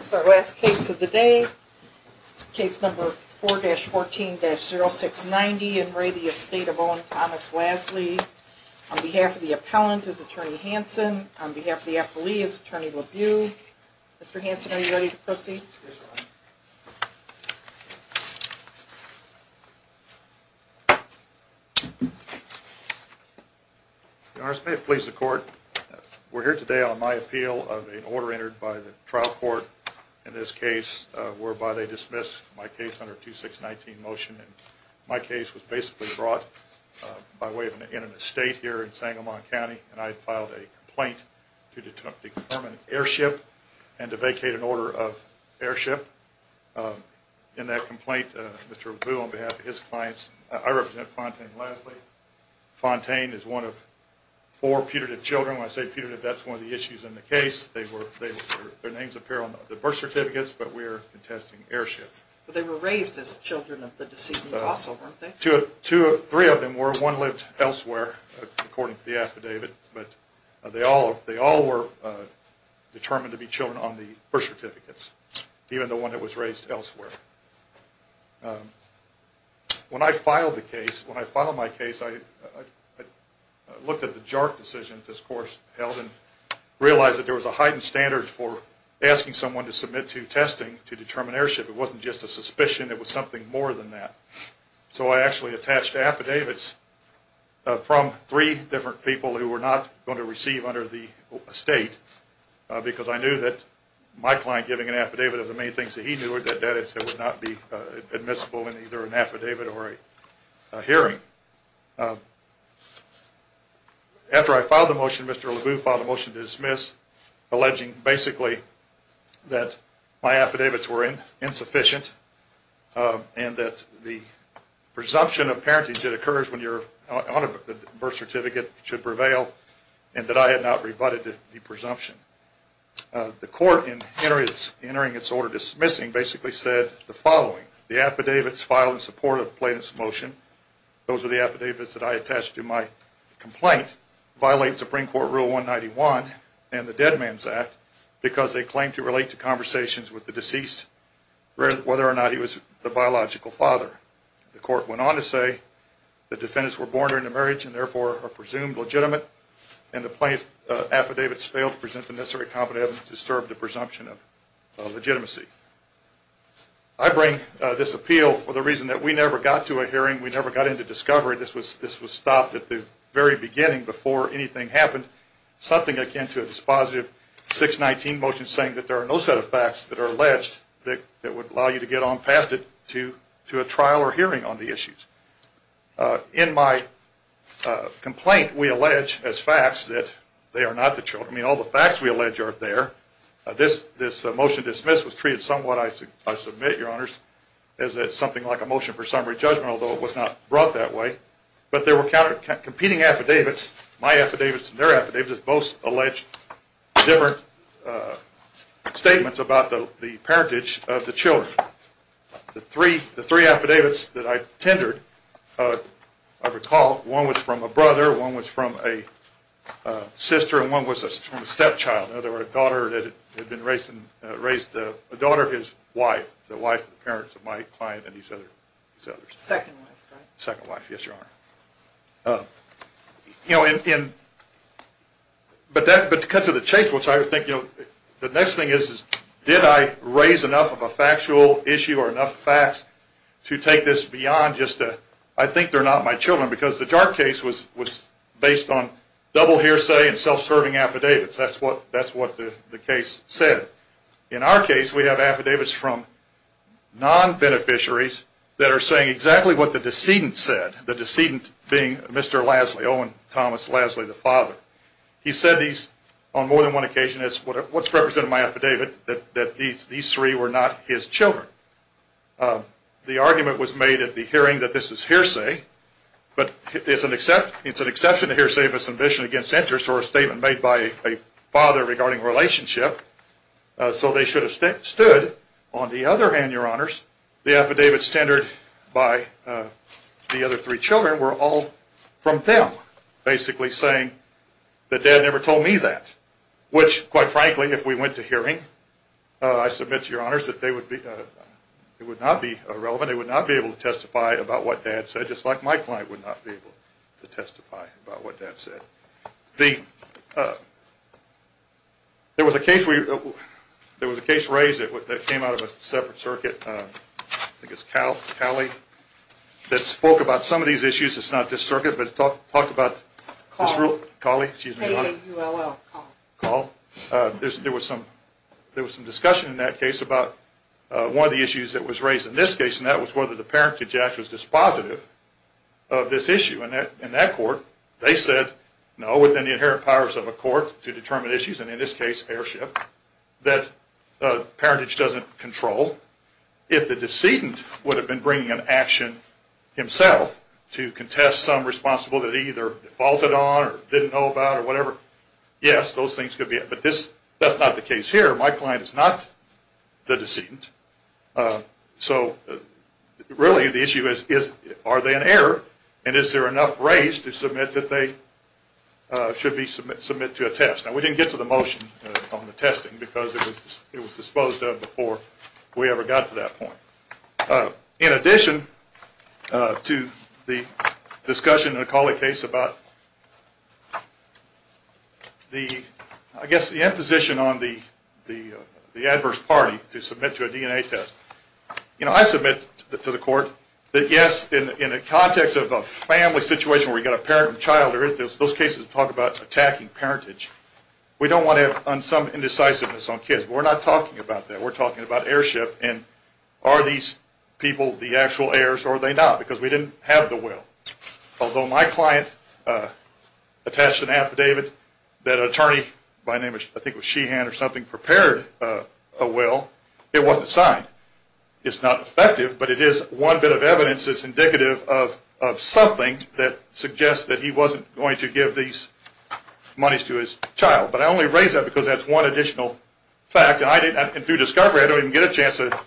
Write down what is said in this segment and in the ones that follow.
So last case of the day, case number 4-14-0690 in Ray the Estate of Owen Thomas Lasley. On behalf of the appellant is Attorney Hanson, on behalf of the appellee is Attorney LaView. Mr. Hanson are you ready to proceed? Yes Your Honor. Your Honor, may it please the court. We're here today on my appeal of an order entered by the trial court in this case whereby they dismissed my case under 2-6-19 motion. My case was basically brought by way of an in an estate here in Sangamon County and I filed a complaint to determine an airship and to vacate an order of airship. In that complaint, there was an order of airship. Mr. LaView, on behalf of his clients, I represent Fontaine Lasley. Fontaine is one of four putative children. When I say putative, that's one of the issues in the case. Their names appear on the birth certificates, but we are contesting airship. They were raised as children of the deceased? I actually attached affidavits from three different people who were not going to receive under the estate because I knew that my client giving an affidavit of the main things that he knew would not be admissible in either an affidavit or a hearing. After I filed the motion, Mr. LaView filed a motion to dismiss alleging basically that my affidavits were insufficient and that the presumption of parentage that occurs when you're on a birth certificate should prevail and that I had not rebutted the presumption. The court, in entering its order dismissing, basically said the following. The affidavits filed in support of the plaintiff's motion, those are the affidavits that I attached to my complaint, violate Supreme Court Rule 191 and the Dead Man's Act because they claim to relate to conversations with the deceased whether or not he was the biological father. The court went on to say the defendants were born during the marriage and therefore are presumed legitimate and the plaintiff's affidavits fail to present the necessary evidence to serve the presumption of legitimacy. I bring this appeal for the reason that we never got to a hearing, we never got into discovery. This was stopped at the very beginning before anything happened, something akin to a dispositive 619 motion saying that there are no set of facts that are alleged that would allow you to get on past it to a trial or hearing on the issues. In my complaint, we allege as facts that they are not the children. I mean, all the facts we allege are there. This motion dismissed was treated somewhat, I submit, your honors, as something like a motion for summary judgment, although it was not brought that way. But there were competing affidavits, my affidavits and their affidavits that both allege different statements about the parentage of the children. The three affidavits that I tendered, I recall, one was from a brother, one was from a sister, and one was from a stepchild. In other words, a daughter of his wife, the wife of the parents of my client and these others. Second wife, right? But to cut to the chase, the next thing is, did I raise enough of a factual issue or enough facts to take this beyond just a, I think they're not my children, because the JARC case was based on double hearsay and self-serving affidavits. That's what the case said. In our case, we have affidavits from non-beneficiaries that are saying exactly what the decedent said, the decedent being Mr. Lasley, Owen Thomas Lasley, the father. He said these on more than one occasion as what's represented in my affidavit, that these three were not his children. The argument was made at the hearing that this is hearsay, but it's an exception to hearsay if it's an admission against interest or a statement made by a father regarding a relationship. So they should have stood. On the other hand, Your Honors, the affidavits tendered by the other three children were all from them, basically saying that dad never told me that. Which, quite frankly, if we went to hearing, I submit to Your Honors, it would not be relevant. It would not be able to testify about what dad said, just like my client would not be able to testify about what dad said. There was a case raised that came out of a separate circuit, I think it's Cowley, that spoke about some of these issues. It's not this circuit, but it talked about this rule. It's Cawley. Cawley, excuse me, Your Honor. A-A-U-L-L, Cawley. Cawley. There was some discussion in that case about one of the issues that was raised in this case, and that was whether the parent to Jack was dispositive of this issue. In that court, they said, no, within the inherent powers of a court to determine issues, and in this case, heirship, that parentage doesn't control. If the decedent would have been bringing an action himself to contest some responsibility that he either defaulted on or didn't know about or whatever, yes, those things could be. But that's not the case here. My client is not the decedent. So really, the issue is, are they an heir, and is there enough raise to submit that they should be submitted to a test? Now, we didn't get to the motion on the testing because it was disposed of before we ever got to that point. In addition to the discussion in the Cawley case about, I guess, the imposition on the adverse party to submit to a DNA test, I submit to the court that yes, in the context of a family situation where we've got a parent and child, those cases talk about attacking parentage. We don't want to have some indecisiveness on kids. We're not talking about that. We're talking about heirship, and are these people the actual heirs or are they not because we didn't have the will. Although my client attached an affidavit that an attorney by the name of, I think it was Sheehan or something, prepared a will, it wasn't signed. It's not effective, but it is one bit of evidence that's indicative of something that suggests that he wasn't going to give these monies to his child. But I only raise that because that's one additional fact. And through discovery, I don't even get a chance to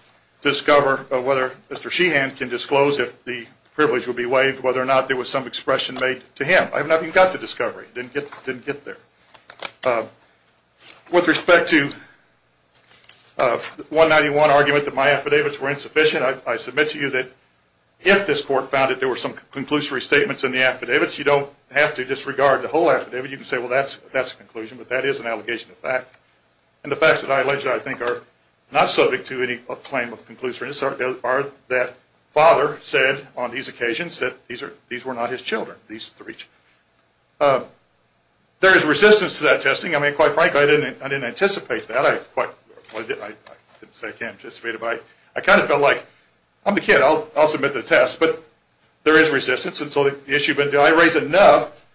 discover whether Mr. Sheehan can disclose if the privilege would be waived, whether or not there was some expression made to him. I haven't even gotten to discovery. I didn't get there. With respect to the 191 argument that my affidavits were insufficient, I submit to you that if this court found that there were some conclusory statements in the affidavits, you don't have to disregard the whole affidavit. You can say, well, that's a conclusion, but that is an allegation of fact. And the facts that I think are not subject to any claim of conclusiveness are that father said on these occasions that these were not his children. There is resistance to that testing. I mean, quite frankly, I didn't anticipate that. I didn't say I can't anticipate it, but I kind of felt like, I'm the kid. I'll submit to the test. But there is resistance. And so the issue, but do I raise enough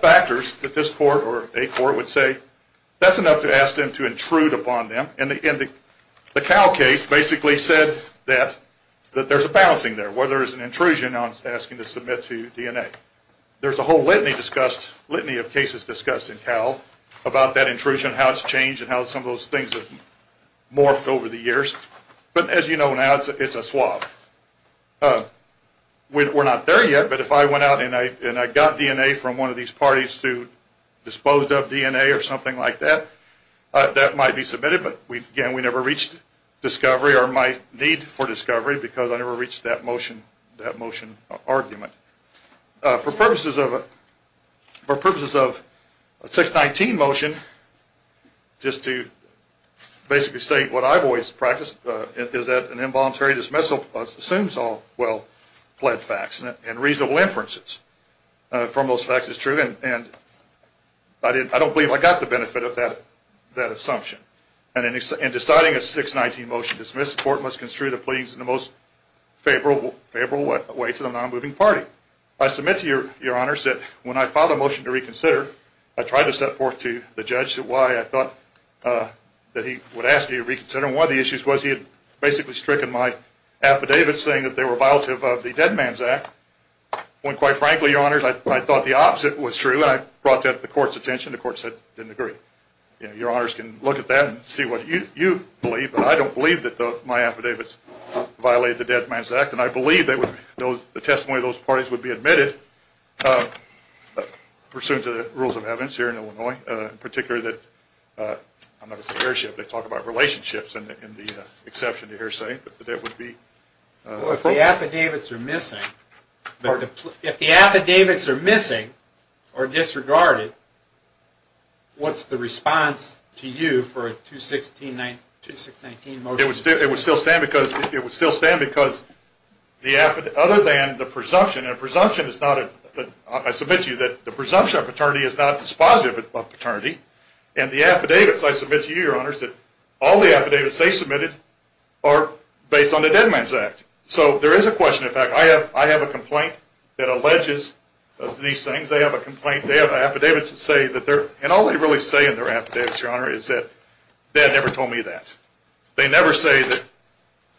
factors that this court or a court would say that's enough to ask them to intrude upon them? And the Cal case basically said that there's a balancing there, whether it's an intrusion on asking to submit to DNA. There's a whole litany of cases discussed in Cal about that intrusion, how it's changed, and how some of those things have morphed over the years. But as you know now, it's a swap. We're not there yet, but if I went out and I got DNA from one of these parties who disposed of DNA or something like that, that might be submitted. But again, we never reached discovery or my need for discovery because I never reached that motion argument. For purposes of a 619 motion, just to basically state what I've always practiced, is that an involuntary dismissal assumes all well-pled facts and reasonable inferences from those facts is true. And I don't believe I got the benefit of that assumption. And in deciding a 619 motion to dismiss, the court must construe the pleadings in the most favorable way to the non-moving party. I submit to your honors that when I filed a motion to reconsider, I tried to set forth to the judge why I thought that he would ask me to reconsider. And one of the issues was he had basically stricken my affidavits saying that they were violative of the Dead Man's Act, when quite frankly, your honors, I thought the opposite was true, and I brought that to the court's attention. The court said it didn't agree. Your honors can look at that and see what you believe, but I don't believe that my affidavits violated the Dead Man's Act. And I believe that the testimony of those parties would be admitted, pursuant to the rules of evidence here in Illinois, in particular that, I'm not going to say hearsay, but they talk about relationships and the exception to hearsay, Well, if the affidavits are missing, or disregarded, what's the response to you for a 2619 motion to dismiss? It would still stand because, other than the presumption, and I submit to you that the presumption of paternity is not dispositive of paternity, and the affidavits, I submit to you, your honors, that all the affidavits they submitted are based on the Dead Man's Act. So there is a question. In fact, I have a complaint that alleges these things. They have a complaint. They have affidavits that say that they're, and all they really say in their affidavits, your honor, is that they had never told me that. They never say that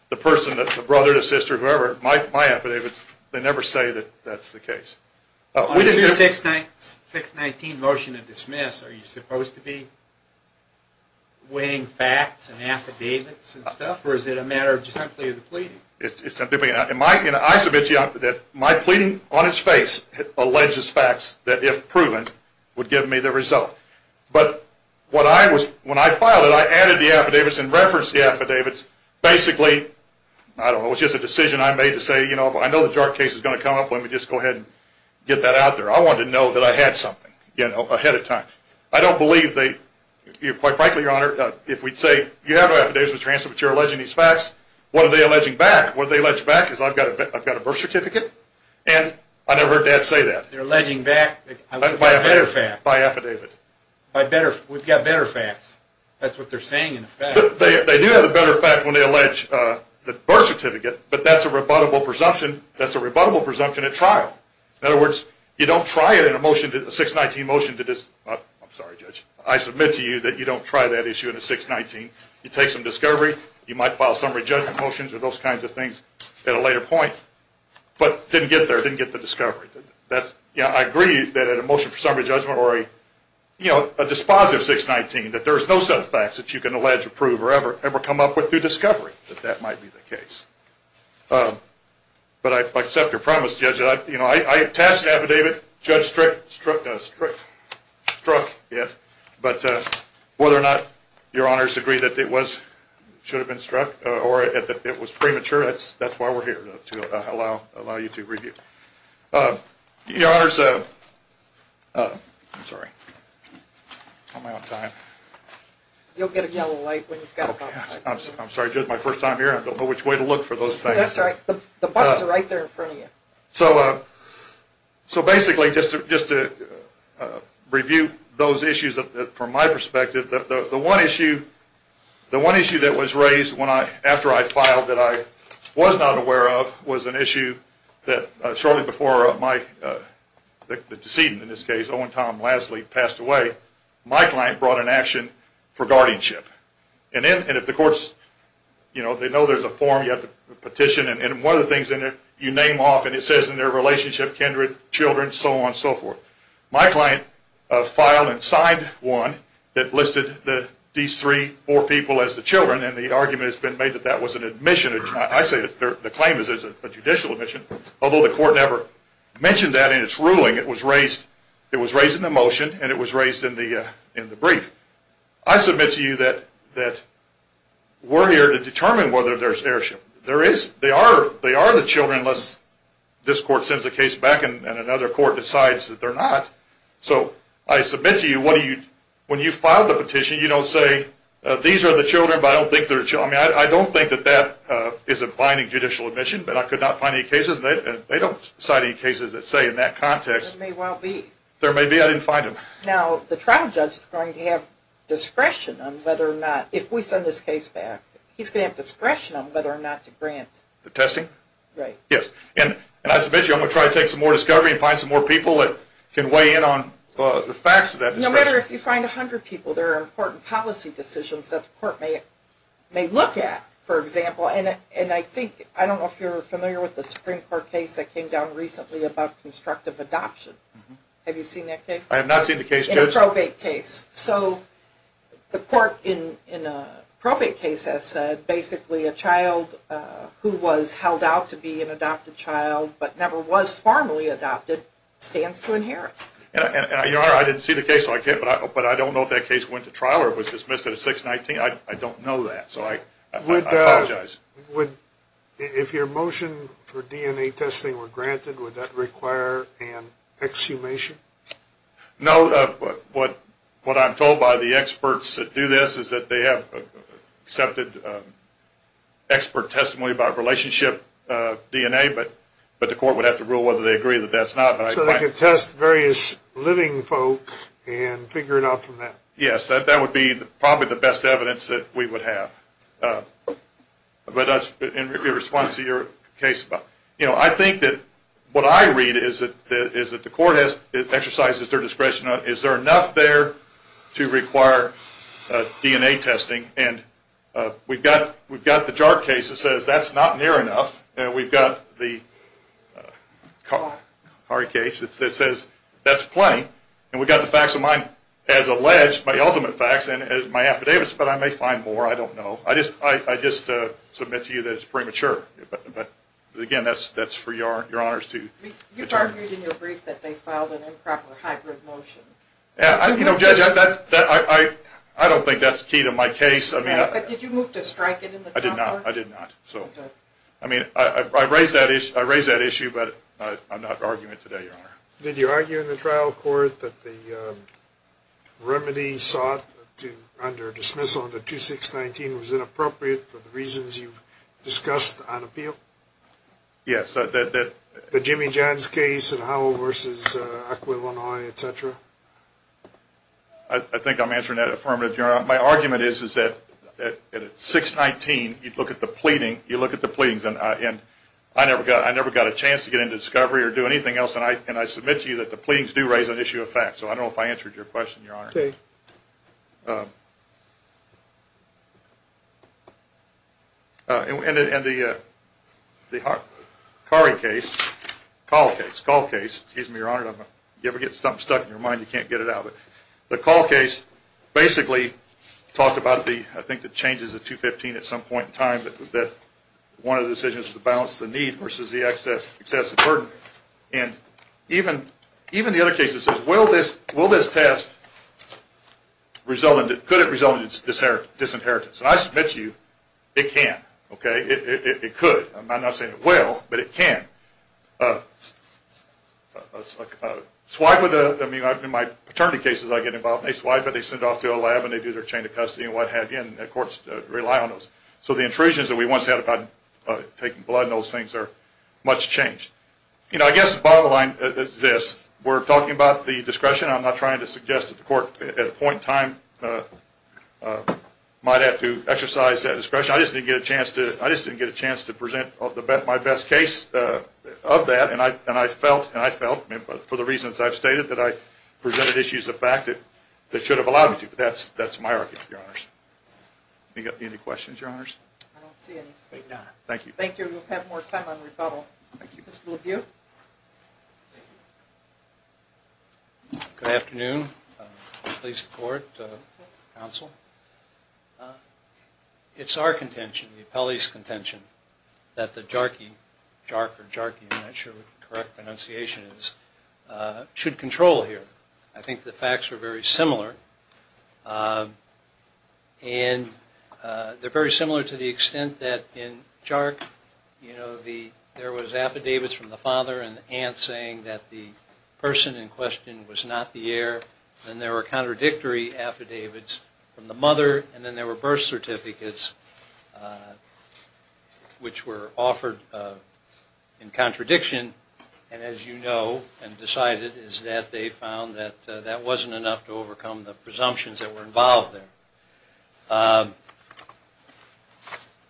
the person, the brother, the sister, whoever, my affidavits, they never say that that's the case. On a 2619 motion to dismiss, are you supposed to be weighing facts and affidavits and stuff, or is it a matter of just simply the pleading? It's simply, and I submit to you that my pleading on its face alleges facts that, if proven, would give me the result. But when I filed it, I added the affidavits and referenced the affidavits, basically, I don't know, it was just a decision I made to say, you know, I know the jar case is going to come up, let me just go ahead and get that out there. I wanted to know that I had something, you know, ahead of time. I don't believe they, quite frankly, your honor, if we'd say, you have no affidavits to transfer, but you're alleging these facts, what are they alleging back? What are they alleging back is I've got a birth certificate, and I never heard Dad say that. They're alleging back by affidavit. By affidavit. That's what they're saying in the facts. They do have a better fact when they allege the birth certificate, but that's a rebuttable presumption. That's a rebuttable presumption at trial. In other words, you don't try it in a 619 motion to, I'm sorry judge, I submit to you that you don't try that issue in a 619. You take some discovery, you might file summary judgment motions or those kinds of things at a later point, but didn't get there, didn't get the discovery. I agree that at a motion for summary judgment or a dispositive 619 that there is no set of facts that you can allege, approve, or ever come up with through discovery that that might be the case. But I accept your premise, judge. I attached an affidavit. Judge Strick struck it, but whether or not your honors agree that it should have been struck or that it was premature, that's why we're here, to allow you to review. Your honors, I'm sorry, am I on time? You'll get a yellow light when you've got it. I'm sorry, judge, my first time here, I don't know which way to look for those things. That's all right. The buttons are right there in front of you. So basically, just to review those issues from my perspective, the one issue that was raised after I filed that I was not aware of was an issue that shortly before the decedent, in this case, Owen Tom Lasley, passed away, my client brought an action for guardianship. And if the courts, you know, they know there's a form, you have to petition, and one of the things you name off and it says in their relationship, kindred, children, so on and so forth. My client filed and signed one that listed these three, four people as the children, and the argument has been made that that was an admission. I say the claim is a judicial admission, although the court never mentioned that in its ruling. It was raised in the motion, and it was raised in the brief. I submit to you that we're here to determine whether there's heirship. There is. They are the children, unless this court sends the case back and another court decides that they're not. So I submit to you, when you file the petition, you don't say, these are the children, but I don't think they're children. I mean, I don't think that that is a binding judicial admission, but I could not find any cases, and they don't cite any cases that say in that context. There may well be. There may be. I didn't find them. Now, the trial judge is going to have discretion on whether or not, if we send this case back, he's going to have discretion on whether or not to grant. The testing? Right. Yes. And I submit to you I'm going to try to take some more discovery and find some more people that can weigh in on the facts of that. No matter if you find 100 people, there are important policy decisions that the court may look at, for example. And I think, I don't know if you're familiar with the Supreme Court case that came down recently about constructive adoption. Have you seen that case? I have not seen the case, Judge. In a probate case. So the court in a probate case has said basically a child who was held out to be an adopted child, but never was formally adopted, stands to inherit. Your Honor, I didn't see the case, so I can't. But I don't know if that case went to trial or was dismissed at a 619. I don't know that, so I apologize. If your motion for DNA testing were granted, would that require an exhumation? No. What I'm told by the experts that do this is that they have accepted expert testimony about relationship DNA, but the court would have to rule whether they agree that that's not. So they could test various living folk and figure it out from that. Yes, that would be probably the best evidence that we would have. But that's in response to your case. You know, I think that what I read is that the court exercises their discretion. Is there enough there to require DNA testing? And we've got the jar case that says that's not near enough. And we've got the car case that says that's plenty. And we've got the facts of mine as alleged, my ultimate facts, and my affidavits. But I may find more. I don't know. I just submit to you that it's premature. But, again, that's for your honors to determine. You've argued in your brief that they filed an improper hybrid motion. You know, Judge, I don't think that's key to my case. But did you move to strike it in the concord? I did not. I mean, I raise that issue, but I'm not arguing it today, Your Honor. Did you argue in the trial court that the remedy sought under dismissal under 2619 was inappropriate for the reasons you discussed on appeal? Yes. The Jimmy Johns case and Howell v. Aquilinoi, et cetera? My argument is that at 619, you look at the pleadings. And I never got a chance to get into discovery or do anything else. And I submit to you that the pleadings do raise an issue of facts. So I don't know if I answered your question, Your Honor. Okay. And the Curry case, call case, call case, excuse me, Your Honor. If you ever get something stuck in your mind, you can't get it out. But the call case basically talked about the, I think, the changes of 215 at some point in time that one of the decisions was to balance the need versus the excessive burden. And even the other case that says, will this test result in, could it result in disinheritance? And I submit to you, it can. Okay? It could. I'm not saying it will, but it can. Swipe with a, I mean, in my paternity cases, I get involved. They swipe it, they send it off to a lab, and they do their chain of custody and what have you. And the courts rely on those. So the intrusions that we once had about taking blood and those things are much changed. You know, I guess the bottom line is this. We're talking about the discretion. I'm not trying to suggest that the court at a point in time might have to exercise that discretion. I just didn't get a chance to present my best case of that. And I felt, for the reasons I've stated, that I presented issues of fact that should have allowed me to. But that's my argument, Your Honors. Do you have any questions, Your Honors? I don't see any. Thank you. Thank you. We'll have more time on rebuttal. Thank you. Mr. Lebut? Thank you. Good afternoon. Please support, counsel. It's our contention, the appellee's contention, that the JARC, I'm not sure what the correct pronunciation is, should control here. I think the facts are very similar. And they're very similar to the extent that in JARC, you know, there was affidavits from the father and the aunt saying that the person in question was not the heir. Then there were contradictory affidavits from the mother. And then there were birth certificates which were offered in contradiction. And as you know and decided is that they found that that wasn't enough to overcome the presumptions that were involved there.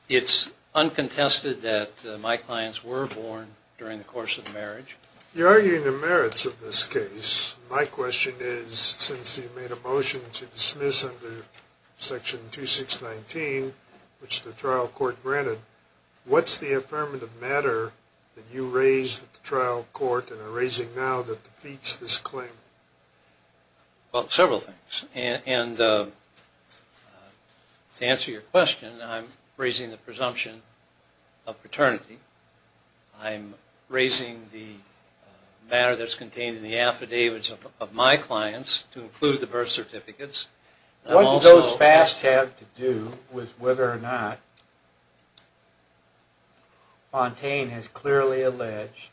It's uncontested that my clients were born during the course of the marriage. You're arguing the merits of this case. My question is, since you made a motion to dismiss under Section 2619, which the trial court granted, what's the affirmative matter that you raised at the trial court and are raising now that defeats this claim? Well, several things. And to answer your question, I'm raising the presumption of paternity. I'm raising the matter that's contained in the affidavits of my clients to include the birth certificates. What do those facts have to do with whether or not Fontaine has clearly alleged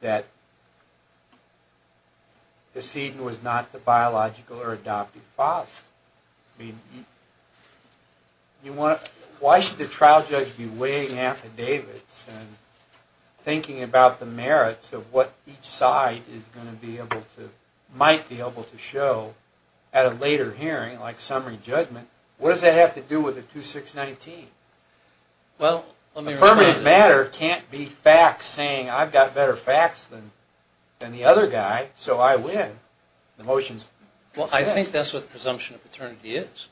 that the seed was not the biological or adoptive father? I mean, why should the trial judge be weighing affidavits and thinking about the merits of what each side might be able to show at a later hearing like summary judgment? What does that have to do with the 2619? Affirmative matter can't be facts saying I've got better facts than the other guy, so I win. Well, I think that's what the presumption of paternity is.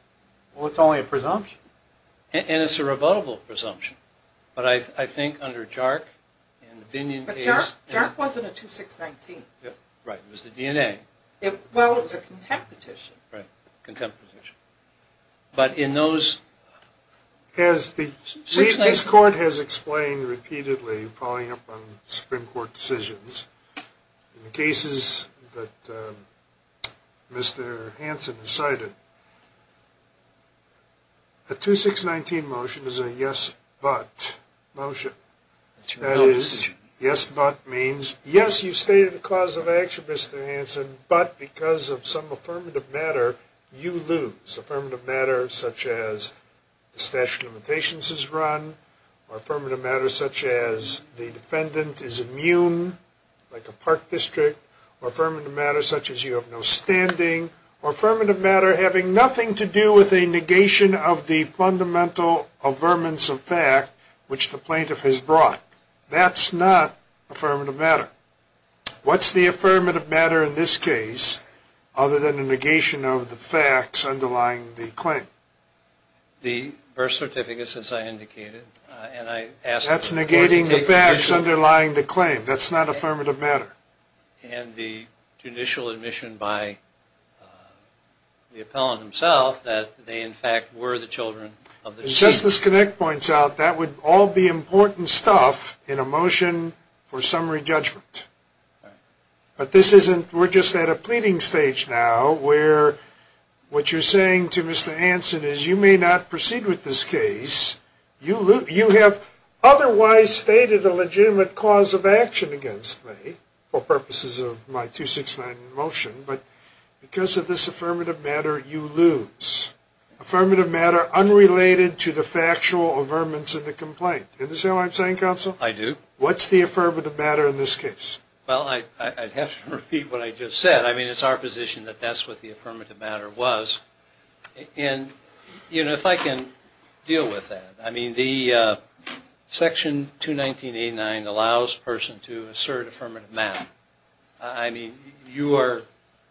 Well, it's only a presumption. And it's a rebuttable presumption. But I think under JARC and the Binion case... But JARC wasn't a 2619. Right, it was the DNA. Well, it was a contempt petition. Right, contempt petition. But in those... This court has explained repeatedly, following up on Supreme Court decisions, in the cases that Mr. Hansen has cited, a 2619 motion is a yes, but motion. That is, yes, but means yes, you've stated the cause of action, Mr. Hansen, but because of some affirmative matter, you lose. It's affirmative matter such as the statute of limitations is run, or affirmative matter such as the defendant is immune, like a park district, or affirmative matter such as you have no standing, or affirmative matter having nothing to do with a negation of the fundamental affirmance of fact, which the plaintiff has brought. That's not affirmative matter. What's the affirmative matter in this case other than the negation of the facts underlying the claim? The birth certificate, as I indicated. That's negating the facts underlying the claim. That's not affirmative matter. And the judicial admission by the appellant himself that they in fact were the children of the deceased. As this connect points out, that would all be important stuff in a motion for summary judgment. But we're just at a pleading stage now where what you're saying to Mr. Hansen is you may not proceed with this case. You have otherwise stated a legitimate cause of action against me for purposes of my 2619 motion, but because of this affirmative matter, you lose. Affirmative matter unrelated to the factual affirmance of the complaint. Is that what I'm saying, counsel? I do. What's the affirmative matter in this case? Well, I'd have to repeat what I just said. I mean, it's our position that that's what the affirmative matter was. And, you know, if I can deal with that. I mean, the section 21989 allows a person to assert affirmative matter. I mean, you are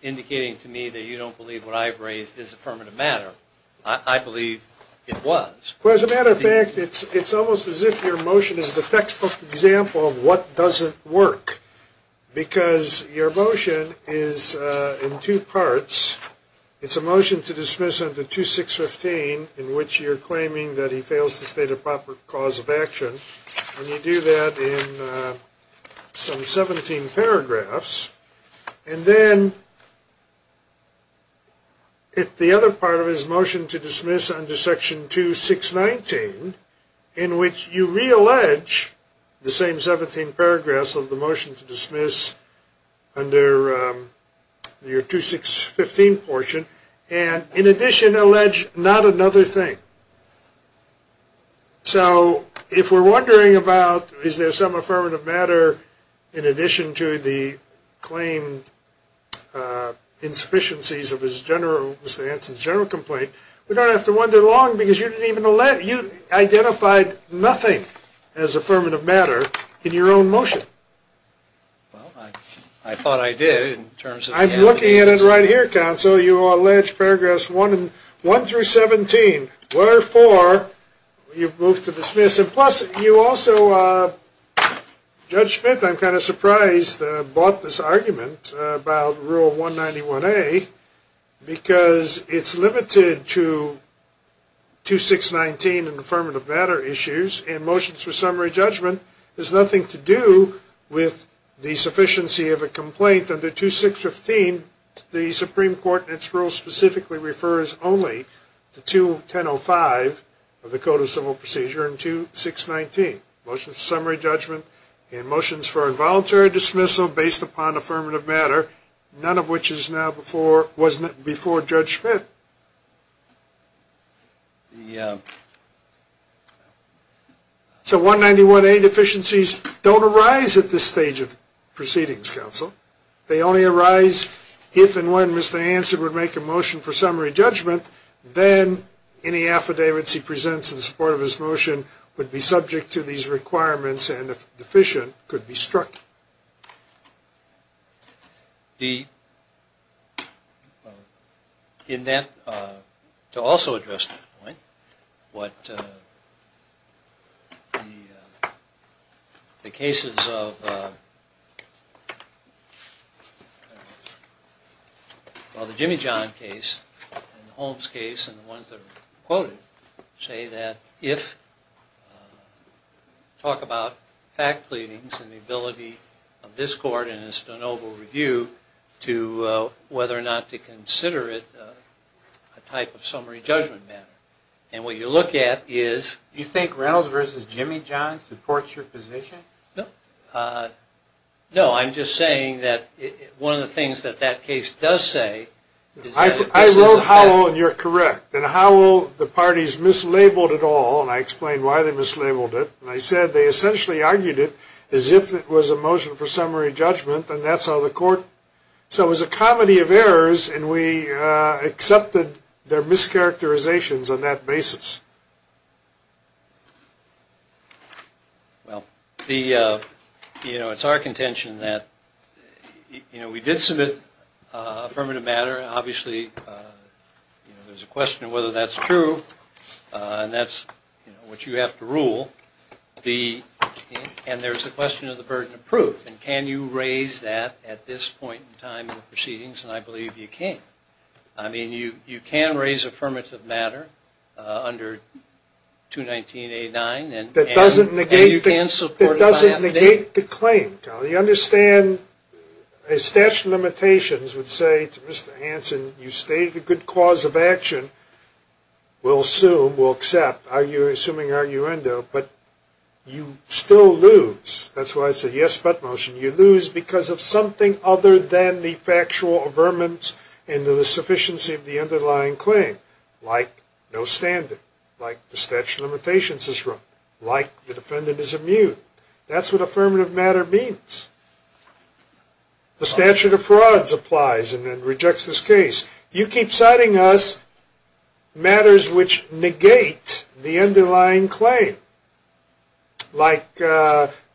indicating to me that you don't believe what I've raised is affirmative matter. I believe it was. Well, as a matter of fact, it's almost as if your motion is the textbook example of what doesn't work. Because your motion is in two parts. It's a motion to dismiss under 2615 in which you're claiming that he fails to state a proper cause of action. And you do that in some 17 paragraphs. And then the other part of it is motion to dismiss under section 2619 in which you reallege the same 17 paragraphs of the motion to dismiss under your 2615 portion. And, in addition, allege not another thing. So, if we're wondering about is there some affirmative matter in addition to the claimed insufficiencies of his general complaint, we don't have to wonder long because you identified nothing as affirmative matter in your own motion. Well, I thought I did. I'm looking at it right here, counsel. You allege paragraphs 1 through 17. Wherefore, you've moved to dismiss. And, plus, you also, Judge Smith, I'm kind of surprised, bought this argument about rule 191A because it's limited to 2619 in affirmative matter issues. In motions for summary judgment, there's nothing to do with the sufficiency of a complaint under 2615. The Supreme Court, in its rule, specifically refers only to 2105 of the Code of Civil Procedure and 2619, motions for summary judgment and motions for involuntary dismissal based upon affirmative matter, none of which is now before Judge Smith. So, 191A deficiencies don't arise at this stage of proceedings, counsel. They only arise if and when Mr. Hansen would make a motion for summary judgment, then any affidavits he presents in support of his motion would be subject to these requirements and, if deficient, could be struck. In that, to also address that point, what the cases of, well, the Jimmy John case and Holmes case and the ones that were quoted say that if, talk about fact pleadings and the ability of this court in its de novo review to, whether or not to consider it a type of summary judgment matter. And what you look at is... Do you think Reynolds v. Jimmy John supports your position? No. No, I'm just saying that one of the things that that case does say is that if this is a fact... I wrote Howell, and you're correct. And Howell, the parties mislabeled it all, and I explained why they mislabeled it. And I said they essentially argued it as if it was a motion for summary judgment, and that's how the court... So it was a comedy of errors, and we accepted their mischaracterizations on that basis. Well, you know, it's our contention that, you know, we did submit affirmative matter. Obviously, you know, there's a question of whether that's true, and that's, you know, what you have to rule. And there's the question of the burden of proof, and can you raise that at this point in time in the proceedings? And I believe you can. I mean, you can raise affirmative matter under 219A9. That doesn't negate the claim. You understand a statute of limitations would say to Mr. Hansen, you stated a good cause of action. We'll assume, we'll accept, assuming arguendo, but you still lose. That's why I say yes, but motion. You lose because of something other than the factual affirmance and the sufficiency of the underlying claim, like no standard, like the statute of limitations is wrong, like the defendant is immune. That's what affirmative matter means. The statute of frauds applies and rejects this case. You keep citing us matters which negate the underlying claim, like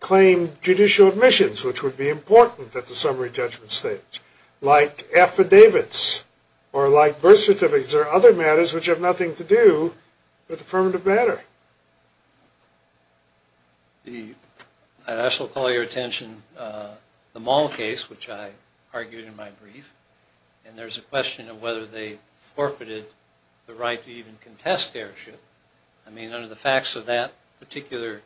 claimed judicial admissions, which would be important at the summary judgment stage, like affidavits or like birth certificates or other matters which have nothing to do with affirmative matter. I shall call your attention the Mall case, which I argued in my brief, and there's a question of whether they forfeited the right to even contest deership. I mean, under the facts of that particular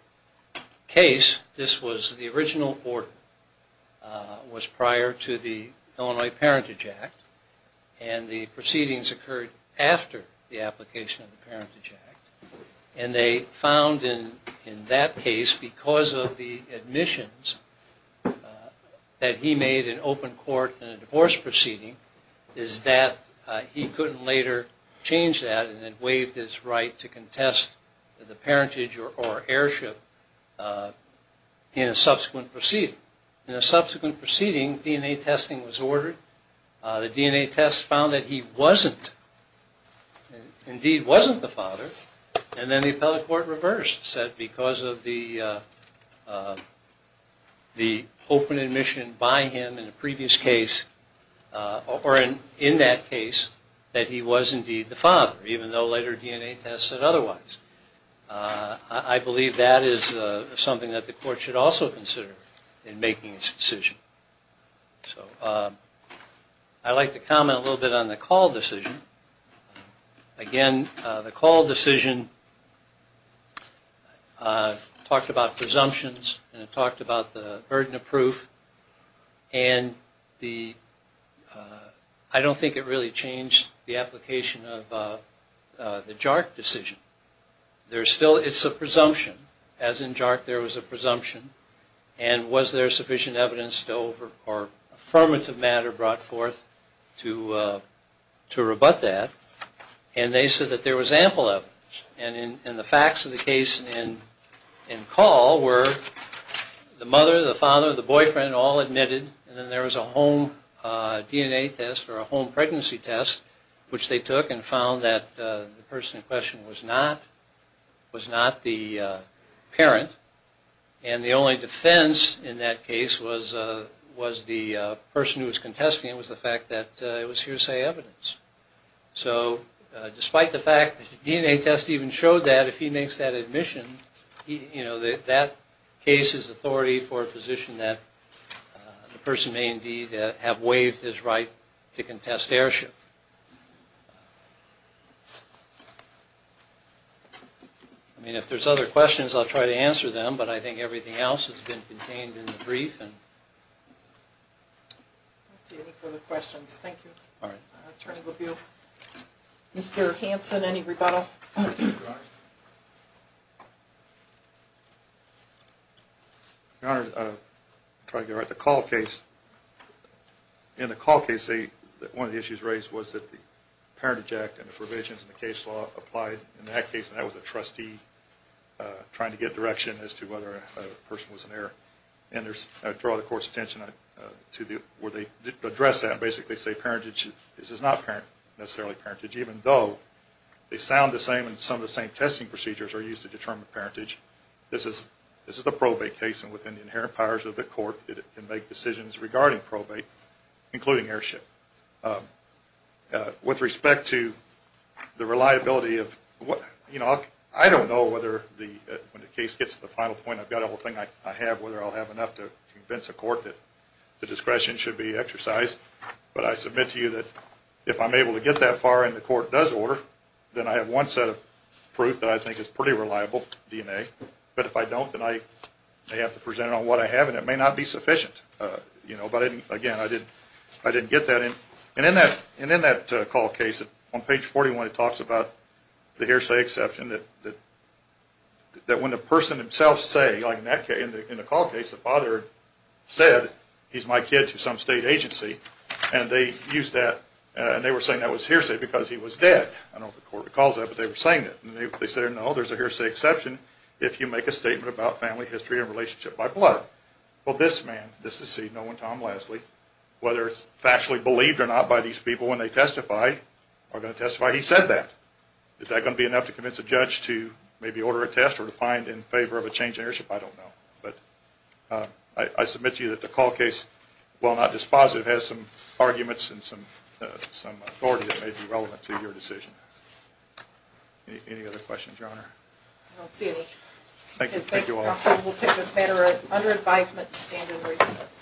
case, this was the original order. It was prior to the Illinois Parentage Act, and the proceedings occurred after the application of the Parentage Act, and they found in that case, because of the admissions that he made in open court in a divorce proceeding, is that he couldn't later change that and had waived his right to contest the parentage or heirship in a subsequent proceeding. In a subsequent proceeding, DNA testing was ordered. The DNA test found that he wasn't, indeed wasn't, the father, and then the appellate court reversed, said because of the open admission by him in a previous case, or in that case, that he was, indeed, the father, even though later DNA tests said otherwise. I believe that is something that the court should also consider in making its decision. I'd like to comment a little bit on the call decision. Again, the call decision talked about presumptions and it talked about the burden of proof, and I don't think it really changed the application of the JARC decision. It's a presumption, as in JARC there was a presumption, and was there sufficient evidence or affirmative matter brought forth to rebut that, and they said that there was ample evidence. And the facts of the case in call were the mother, the father, the boyfriend all admitted, and then there was a home DNA test or a home pregnancy test, which they took and found that the person in question was not the parent, and the only defense in that case was the person who was contesting it was the fact that it was hearsay evidence. So despite the fact that the DNA test even showed that, if he makes that admission, that case is authority for a position that the person may indeed have waived his right to contest heirship. I mean, if there's other questions, I'll try to answer them, but I think everything else has been contained in the brief. I don't see any further questions. Thank you. All right. Attorney LaVio. Mr. Hanson, any rebuttal? Your Honor, I'll try to get it right. In the call case, one of the issues raised was that the Parentage Act and the provisions in the case law applied. In that case, that was a trustee trying to get direction as to whether a person was an heir. And I draw the Court's attention to where they address that and basically say parentage, this is not necessarily parentage even though they sound the same and some of the same testing procedures are used to determine parentage. This is the probate case and within the inherent powers of the Court, it can make decisions regarding probate, including heirship. With respect to the reliability of what, you know, I don't know whether when the case gets to the final point, I've got everything I have, whether I'll have enough to convince the Court that the discretion should be exercised, but I submit to you that if I'm able to get that far and the Court does order, then I have one set of proof that I think is pretty reliable, DNA. But if I don't, then I may have to present it on what I have and it may not be sufficient. But again, I didn't get that. And in that call case, on page 41, it talks about the hearsay exception that when the person himself say, like in the call case, the father said, he's my kid to some state agency, and they used that and they were saying that was hearsay because he was dead. I don't know if the Court recalls that, but they were saying that. And they said, no, there's a hearsay exception if you make a statement about family history and relationship by blood. Well, this man, this is, see, no one, Tom Leslie, whether it's factually believed or not by these people when they testify, are going to testify, he said that. Is that going to be enough to convince a judge to maybe order a test or to find in favor of a change in heirship? I don't know. But I submit to you that the call case, while not dispositive, has some arguments and some authority that may be relevant to your decision. Any other questions, Your Honor? I don't see any. Thank you. Thank you all. We'll take this matter under advisement to stand in recess.